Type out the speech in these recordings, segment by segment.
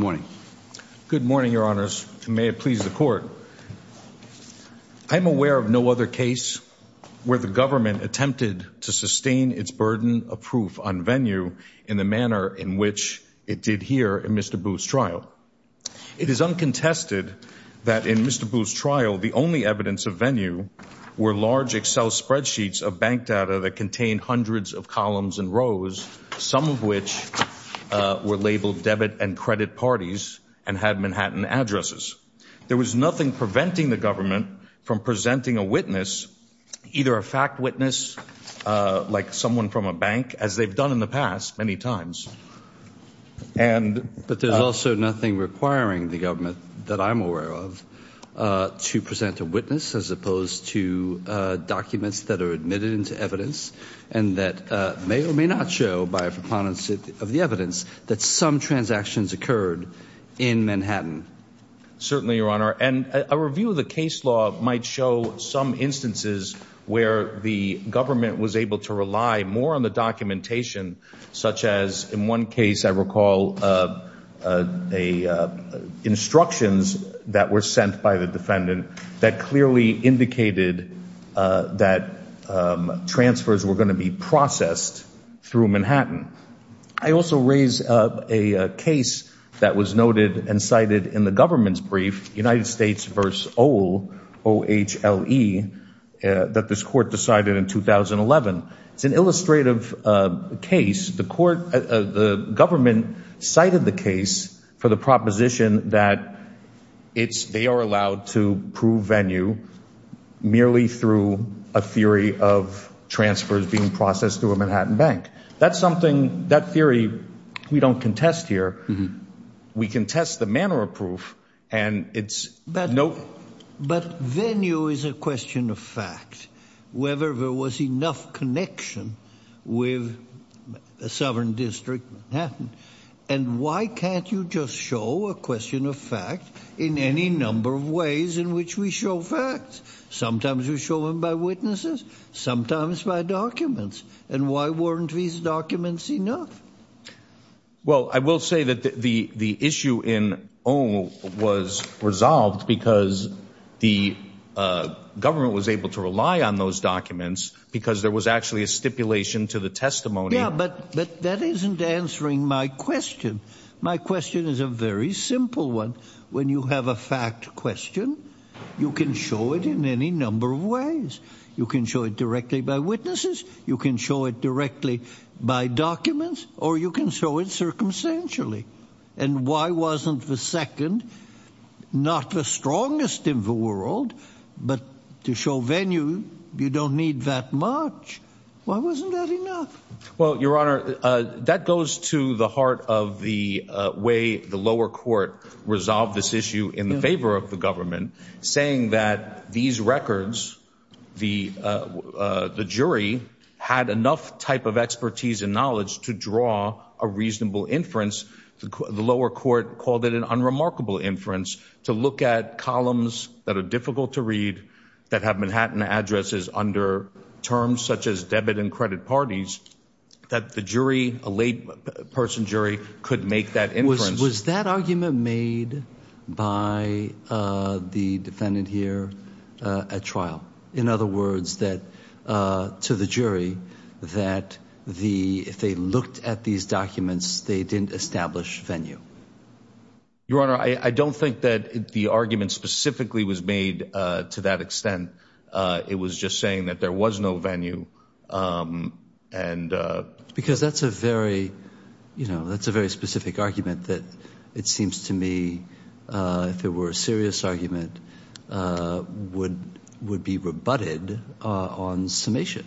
Good morning. Good morning, your honors. May it please the court. I'm aware of no other case where the government attempted to sustain its burden of proof on Venue in the manner in which it did here in Mr. Booth's trial. It is uncontested that in Mr. Booth's trial the only evidence of Venue were large Excel spreadsheets of bank data that contained hundreds of columns and rows, some of which were labeled debit and credit parties and had Manhattan addresses. There was nothing preventing the government from presenting a witness, either a fact witness like someone from a bank, as they've done in the past many times, and But there's also nothing requiring the government that I'm aware of to present a witness as may or may not show by a preponderance of the evidence that some transactions occurred in Manhattan. Certainly, your honor. And a review of the case law might show some instances where the government was able to rely more on the documentation, such as in one case, I recall a instructions that were sent by the defendant that clearly indicated that transfers were going to be processed through Manhattan. I also raise a case that was noted and cited in the government's brief, United States versus old O H L E, that this court decided in 2011. It's an illustrative case. The court, the government cited the case for the proposition that it's they are allowed to prove venue merely through a theory of transfers being processed through a Manhattan bank. That's something that theory we don't contest here. We can test the manner of proof, and it's no. But venue is a question of fact. Whether there was enough connection with a sovereign district happened. And why can't you just show a question of fact in any number of ways in which we show facts? Sometimes we show them by witnesses, sometimes by documents. And why weren't these documents enough? Well, I will say that the issue in O was resolved because the government was able to rely on those documents because there was actually a stipulation to the testimony. But that isn't answering my question. My question is a very simple one. When you have a fact question, you can show it in any number of ways. You can show it directly by witnesses. You can show it directly by documents or you can show it circumstantially. And why wasn't the second not the strongest in the world? But to show venue, you don't need that much. Why wasn't that enough? Well, Your Honor, that goes to the heart of the way the lower court resolved this issue in favor of the government, saying that these records, the jury had enough type of expertise and knowledge to draw a reasonable inference. The lower court called it an unremarkable inference to look at columns that are difficult to read, that have Manhattan addresses under terms such as debit and credit parties, that the jury, a late person jury could make that inference. Was that argument made by the defendant here at trial? In other words, that to the jury that the if they looked at these documents, they didn't establish venue. Your Honor, I don't think that the argument specifically was made to that extent. It was just saying that there was no venue. And because that's a very, you know, that's a very specific argument that it seems to me if it were a serious argument, would would be rebutted on summation.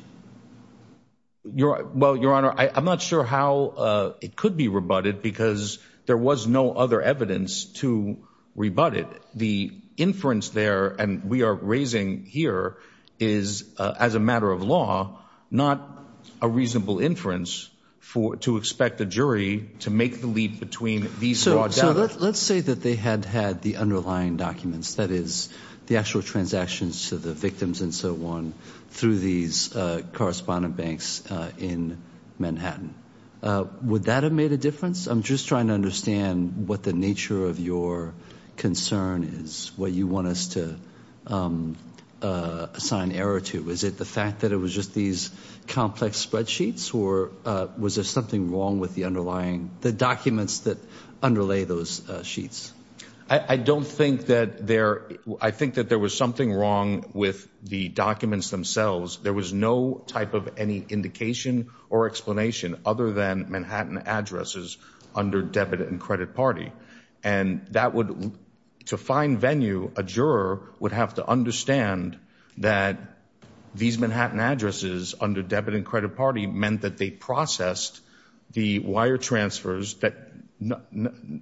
You're right. Well, Your Honor, I'm not sure how it could be rebutted because there was no other evidence to rebut it. The inference there and we are raising here is as a matter of law, not a reasonable inference for it to expect the jury to make the leap between these. So let's say that they had had the underlying documents, that is the actual transactions to the victims and so on through these correspondent banks in Manhattan. Would that have made a nature of your concern is what you want us to assign error to? Is it the fact that it was just these complex spreadsheets or was there something wrong with the underlying the documents that underlay those sheets? I don't think that there I think that there was something wrong with the documents themselves. There was no type of any indication or explanation other than Manhattan addresses under debit and credit party. And that would to find venue, a juror would have to understand that these Manhattan addresses under debit and credit party meant that they processed the wire transfers that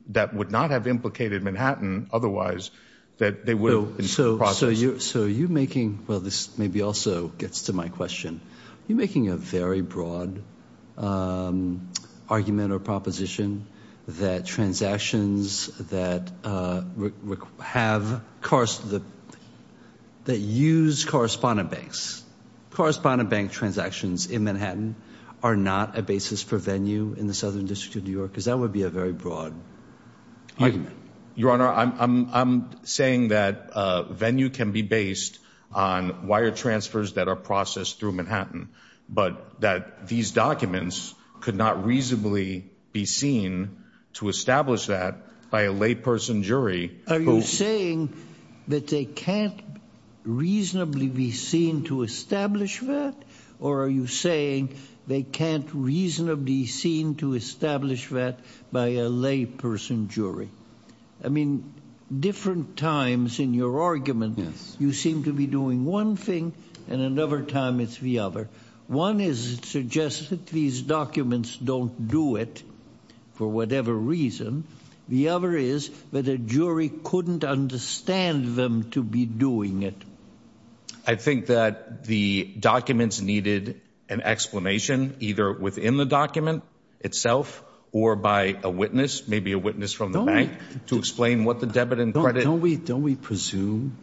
that would not have implicated Manhattan otherwise that they will. So. So you're so you're making. Well, this maybe also gets to my question. You're making a very broad argument or proposition that transactions that have cars that use correspondent banks, correspondent bank transactions in Manhattan are not a basis for venue in the Southern District of New York, because that would be a very broad argument. Your Honor, I'm saying that venue can be based on wire transfers that are processed through Manhattan, but that these documents could not reasonably be seen to establish that by a layperson jury. Are you saying that they can't reasonably be seen to establish that? Or are you saying they can't reasonably be seen to establish that by a layperson jury? I mean, different times in your argument, you seem to be doing one thing and another time it's the other. One is suggested these documents don't do it for whatever reason. The other is that a jury couldn't understand them to be doing it. I think that the documents needed an explanation either within the document itself or by a witness, maybe a witness from the bank to explain what the debit and credit. Don't we presume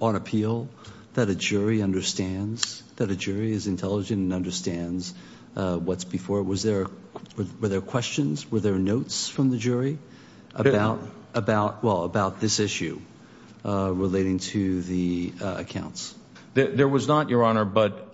on appeal that a jury understands that a jury is intelligent and understands what's before? Was there were there questions? Were there notes from the jury about about well, about this issue relating to the accounts? There was not, Your Honor, but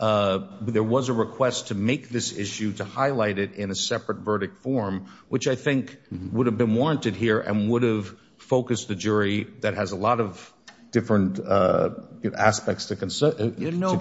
there was a request to make this issue to highlight it in a separate verdict form, which I think would have been warranted here and would have focused the jury that has a lot of different aspects to consider. You know,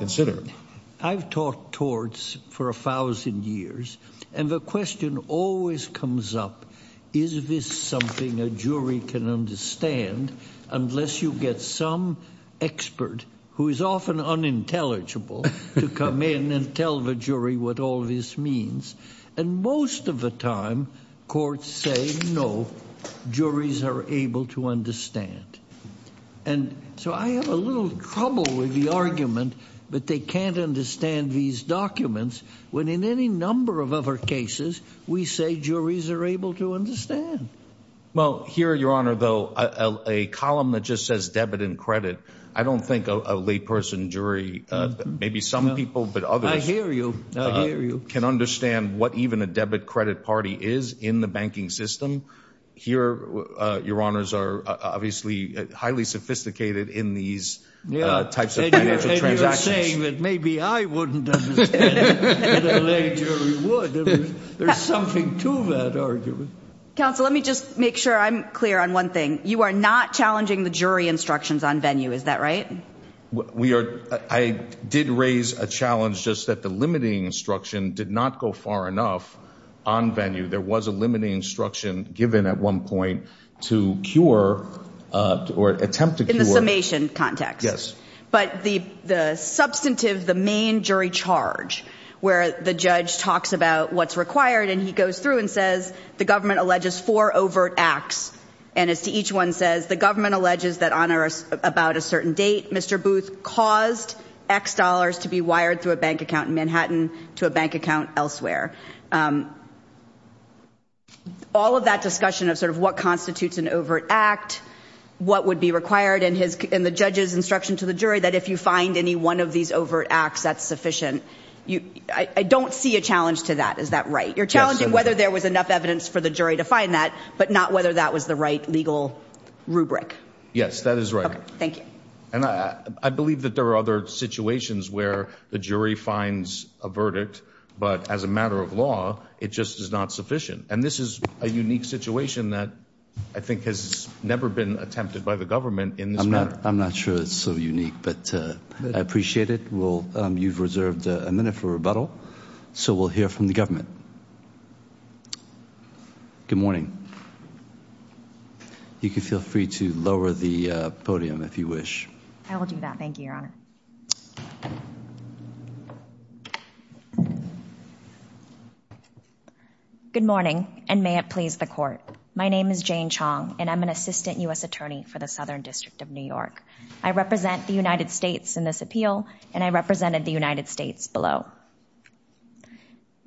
I've taught torts for a thousand years, and the question always comes up. Is this something a jury can understand? Unless you get some expert who is often unintelligible to come in and tell the jury what all this means. And most of the time, courts say no, juries are able to understand. And so I have a little trouble with the argument that they can't understand these documents when in any number of other cases we say juries are able to understand. Well, here, Your Honor, though, a column that just says debit and credit. I don't think a layperson jury, maybe some people, but others can understand what even a debit credit party is in the banking system. Here, Your Honors are obviously highly sophisticated in these types of financial transactions, saying that maybe I wouldn't understand. There's something to that argument. Counsel, let me just make sure I'm clear on one thing. You are not challenging the jury instructions on venue. Is that right? We are. I did raise a challenge just that the limiting instruction did not go far enough on venue. There was a limiting instruction given at one point to cure or attempt to cure in the summation context. Yes. But the the substantive, the main jury charge where the judge talks about what's required and he goes through and says the government alleges four Mr. Booth caused X dollars to be wired through a bank account in Manhattan to a bank account elsewhere. All of that discussion of sort of what constitutes an overt act, what would be required in his in the judge's instruction to the jury, that if you find any one of these overt acts, that's sufficient. I don't see a challenge to that. Is that right? You're challenging whether there was enough evidence for the jury to find that, but not whether that was the right legal rubric. Yes, that is right. Thank you. And I believe that there are other situations where the jury finds a verdict, but as a matter of law, it just is not sufficient. And this is a unique situation that I think has never been attempted by the government in this matter. I'm not sure it's so unique, but I appreciate it. Well, you've You can feel free to lower the podium if you wish. I will do that. Thank you, Your Honor. Good morning, and may it please the court. My name is Jane Chong, and I'm an assistant U.S. attorney for the Southern District of New York. I represent the United States in this appeal, and I represented the United States below.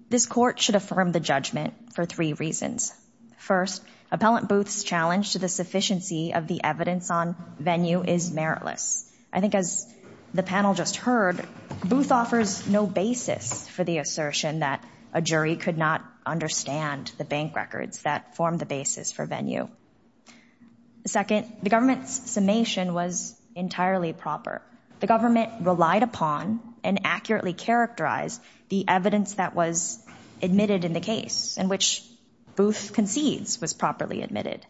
This court should affirm the judgment for reasons. First, Appellant Booth's challenge to the sufficiency of the evidence on venue is meritless. I think as the panel just heard, Booth offers no basis for the assertion that a jury could not understand the bank records that form the basis for venue. Second, the government's summation was entirely proper. The government relied upon and accurately characterized the evidence that was admitted in the case, in which Booth concedes was properly admitted.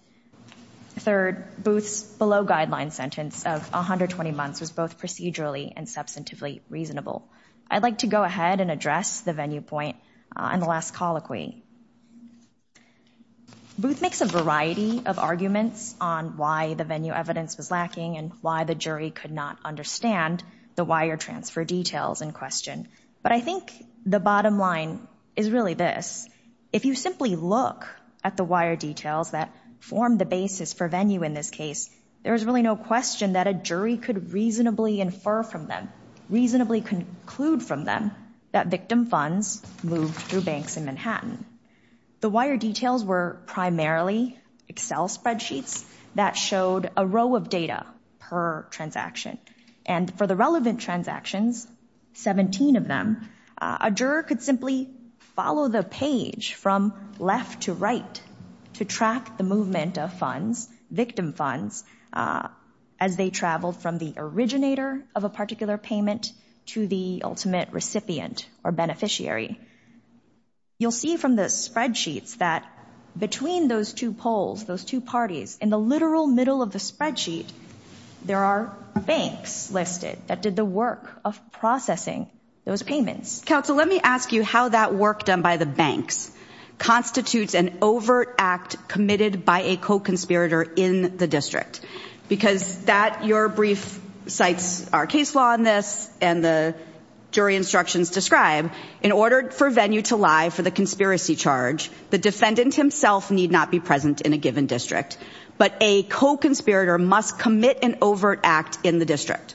Third, Booth's below-guideline sentence of 120 months was both procedurally and substantively reasonable. I'd like to go ahead and address the venue point in the last colloquy. Booth makes a variety of arguments on why the venue evidence was lacking and why the jury could not understand the wire transfer details in question. But I think the bottom line is really this. If you simply look at the wire details that form the basis for venue in this case, there is really no question that a jury could reasonably infer from them, reasonably conclude from them, that victim funds moved through banks in Manhattan. The wire details were primarily Excel spreadsheets that showed a row of data per transaction. And for the relevant transactions, 17 of them, a juror could simply follow the page from left to right to track the movement of funds, victim funds, as they traveled from the originator of a particular payment to the ultimate recipient or beneficiary. You'll see from the spreadsheets that between those two polls, those two parties, in the literal middle of the spreadsheet, there are banks listed that did the work of processing those payments. Counsel, let me ask you how that work done by the banks constitutes an overt act committed by a co-conspirator in the district. Because that, your brief cites our case law on this, and the jury instructions describe, in order for venue to lie for the conspiracy charge, the defendant himself need not be present in a given district. But a co-conspirator must commit an overt act in the district.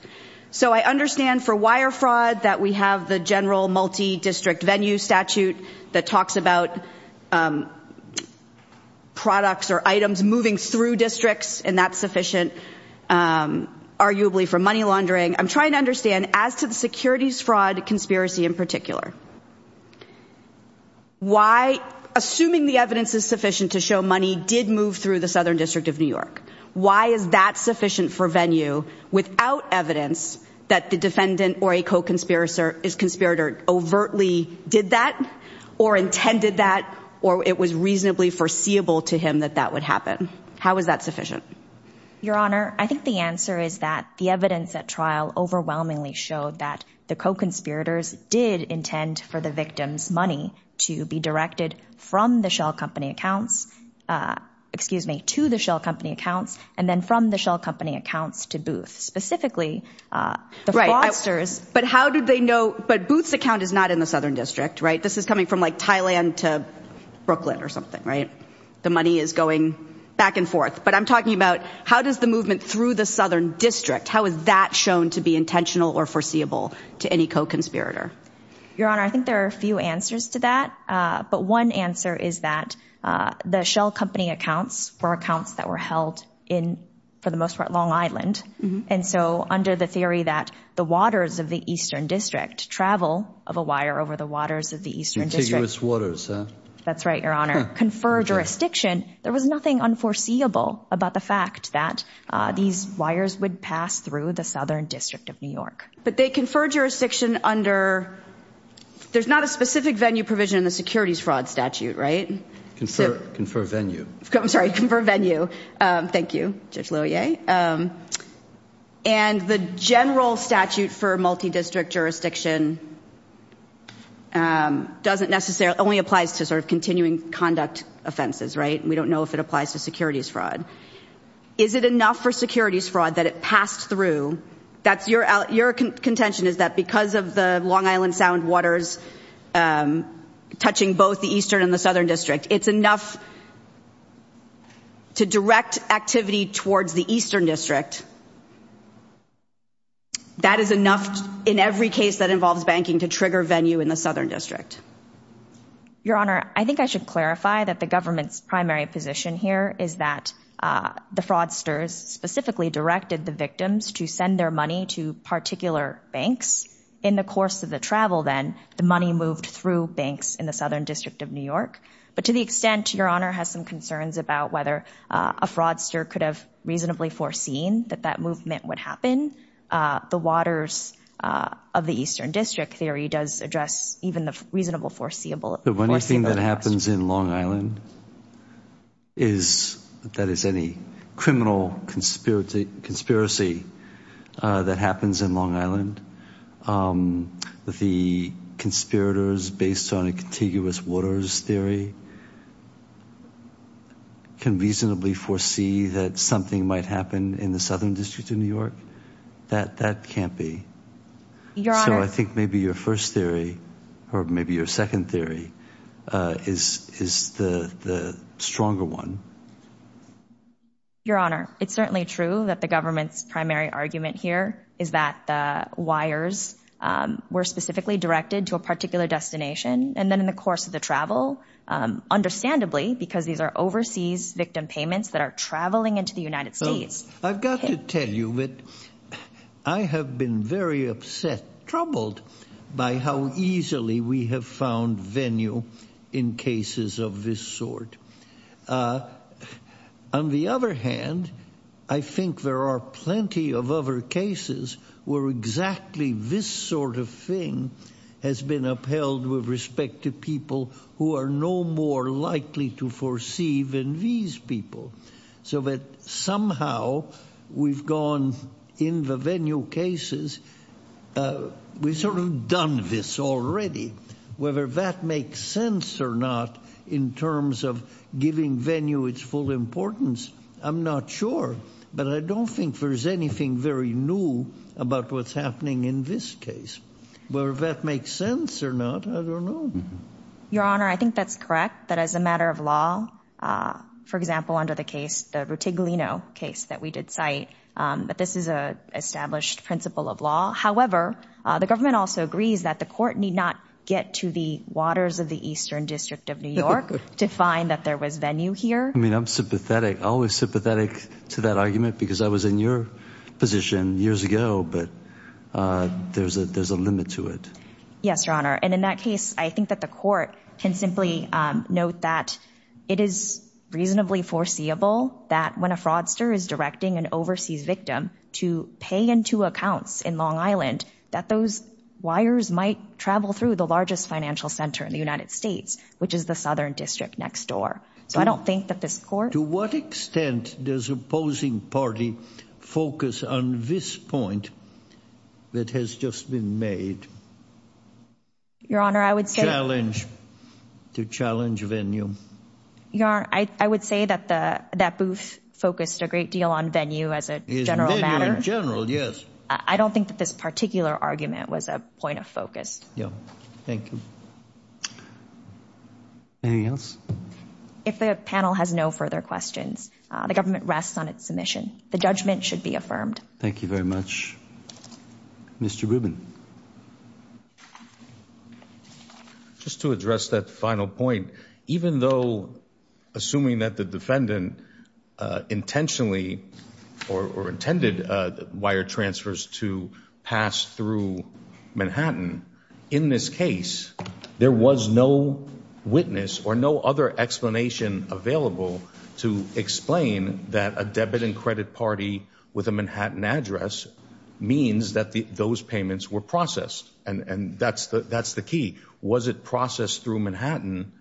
So I understand for wire fraud that we have the general multi-district venue statute that talks about products or items moving through districts, and that's sufficient, um, arguably for money laundering. I'm trying to understand as to the securities fraud conspiracy in particular, why, assuming the evidence is sufficient to show money did move through the Southern District of New York, why is that sufficient for venue without evidence that the defendant or a co-conspirator is conspirator overtly did that or intended that, or it was reasonably foreseeable to him that that would happen? How is that sufficient? Your Honor, I think the answer is that the evidence at trial overwhelmingly showed that the co-conspirators did intend for the victim's money to be directed from the shell company accounts, uh, excuse me, to the shell company accounts, and then from the shell company accounts to Booth, specifically, uh, the fraudsters. But how did they know, but Booth's account is not in the Southern District, right? This is coming from like Thailand to Brooklyn or something, right? The money is going back and forth, but I'm talking about how does the movement through the Southern District, how is that shown to be intentional or foreseeable to any co-conspirator? Your Honor, I think there are a few answers to that, uh, but one answer is that, uh, the shell company accounts were accounts that were held in, for the most part, Long Island, and so under the theory that the waters of the Eastern District travel of a wire over the waters of the Eastern District. Contiguous waters, huh? That's right, Your Honor. Confer jurisdiction. There was nothing unforeseeable about the fact that, uh, these wires would pass through the Southern District of New York. But they confer jurisdiction under, there's not a specific venue provision in the securities fraud statute, right? Confer, confer venue. I'm sorry, confer venue. Um, thank you, Judge Confer jurisdiction, um, doesn't necessarily, only applies to sort of continuing conduct offenses, right? We don't know if it applies to securities fraud. Is it enough for securities fraud that it passed through? That's your, your contention is that because of the Long Island Sound waters, um, touching both the Eastern and the Southern District, it's enough to direct activity towards the Eastern District. That is enough in every case that involves banking to trigger venue in the Southern District. Your Honor, I think I should clarify that the government's primary position here is that, uh, the fraudsters specifically directed the victims to send their money to particular banks. In the course of the travel then, the money moved through banks in the Southern District of New York. But to the extent, Your Honor, has some concerns about whether, uh, a fraudster could have reasonably foreseen that that movement would happen, uh, the waters, uh, of the Eastern District theory does address even the reasonable foreseeable. The only thing that happens in Long Island is that is any criminal conspiracy, uh, that happens in Long Island. Um, the conspirators based on a contiguous waters theory can reasonably foresee that something might happen in the Southern District of New York. That, that can't be. So I think maybe your first theory or maybe your second theory, uh, is, is the, the stronger one. Your Honor, it's certainly true that the government's primary argument here is that the wires, um, were specifically directed to a and then in the course of the travel, um, understandably because these are overseas victim payments that are traveling into the United States. I've got to tell you that I have been very upset, troubled by how easily we have found venue in cases of this sort. On the other hand, I think there are plenty of other cases where exactly this sort of thing has been upheld with respect to people who are no more likely to foresee than these people. So that somehow we've gone in the venue cases, uh, we've sort of done this already. Whether that makes sense or not in terms of giving venue its full importance, I'm not sure, but I don't think there's anything very new about what's happening in this case. Whether that makes sense or not, I don't know. Your Honor, I think that's correct. That as a matter of law, uh, for example, under the case, the Rutiglino case that we did cite, um, but this is a established principle of law. However, uh, the government also agrees that the court need not get to the waters of the Eastern District of New York to find that there was venue here. I mean, I'm sympathetic, always sympathetic to that argument because I was in your position years ago, but, uh, there's a, there's a limit to it. Yes, Your Honor. And in that case, I think that the court can simply, um, note that it is reasonably foreseeable that when a fraudster is directing an overseas victim to pay into accounts in Long Island, that those wires might travel through the largest financial center in the court. To what extent does opposing party focus on this point that has just been made? Your Honor, I would say... Challenge. To challenge venue. Your Honor, I, I would say that the, that booth focused a great deal on venue as a general matter. General, yes. I don't think that this particular argument was a point of focus. Yeah. Thank you. Anything else? If the panel has no further questions, uh, the government rests on its submission. The judgment should be affirmed. Thank you very much. Mr. Rubin. Just to address that final point, even though, assuming that the defendant, uh, intentionally or, or intended, uh, wire transfers to pass through Manhattan, in this case, there was no witness or no other explanation available to explain that a debit and credit party with a Manhattan address means that the, those payments were processed. And, and that's the, that's the key. Was it processed through Manhattan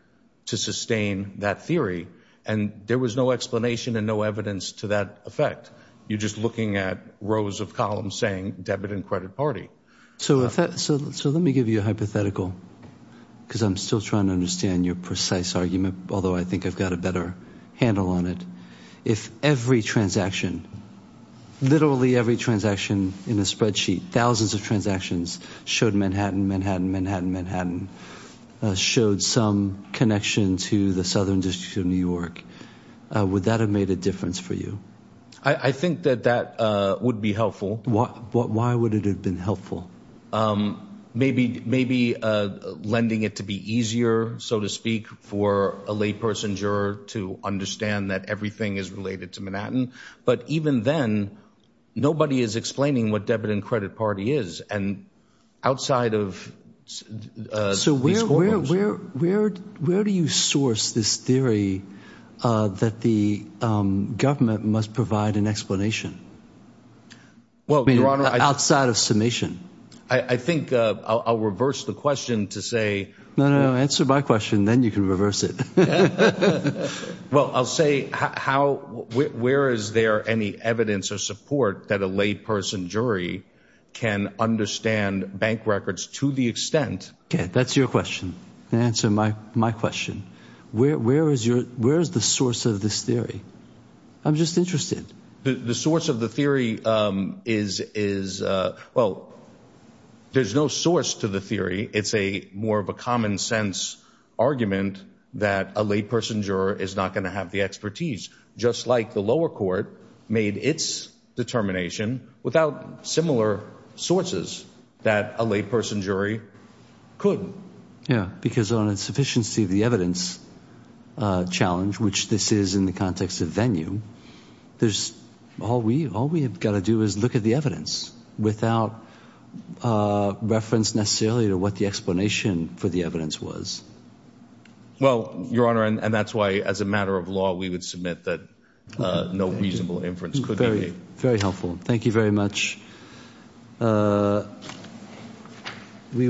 to sustain that theory? And there was no explanation and no evidence to that effect. You're just looking at rows of columns saying debit and credit party. So, so, so let me give you a hypothetical because I'm still trying to understand your precise argument. Although I think I've got a better handle on it. If every transaction, literally every transaction in a spreadsheet, thousands of transactions showed Manhattan, Manhattan, Manhattan, Manhattan, uh, showed some connection to the Southern district of New York, uh, would that have made a difference for you? I think that that, uh, would be helpful. What, what, why would it have been helpful? Um, maybe, maybe, uh, lending it to be easier, so to speak for a lay person juror to understand that everything is related to Manhattan, but even then nobody is explaining what debit and credit party is and outside of, uh, So where, where, where, where, where do you source this theory, uh, that the, um, government must provide an explanation? Well, I mean, outside of summation, I, I think, uh, I'll, I'll reverse the question to say, no, no, no. Answer my question. Then you can reverse it. Well, I'll say how, where is there any evidence or support that a lay person jury can understand bank records to the extent. Okay. That's your question. Answer my, my question. Where, where is your, where is the source of this theory? I'm just interested. The source of the theory, um, is, is, uh, well, there's no source to the theory. It's a more of a common sense argument that a lay person juror is not going to have the expertise just like the lower court made its determination without similar sources that a lay person jury could. Yeah. Because on its sufficiency, the evidence, uh, challenge, which this is in the context of all we, all we've got to do is look at the evidence without, uh, reference necessarily to what the explanation for the evidence was. Well, Your Honor, and that's why as a matter of law, we would submit that, uh, no reasonable inference could be. Very helpful. Thank you very much. Uh, we.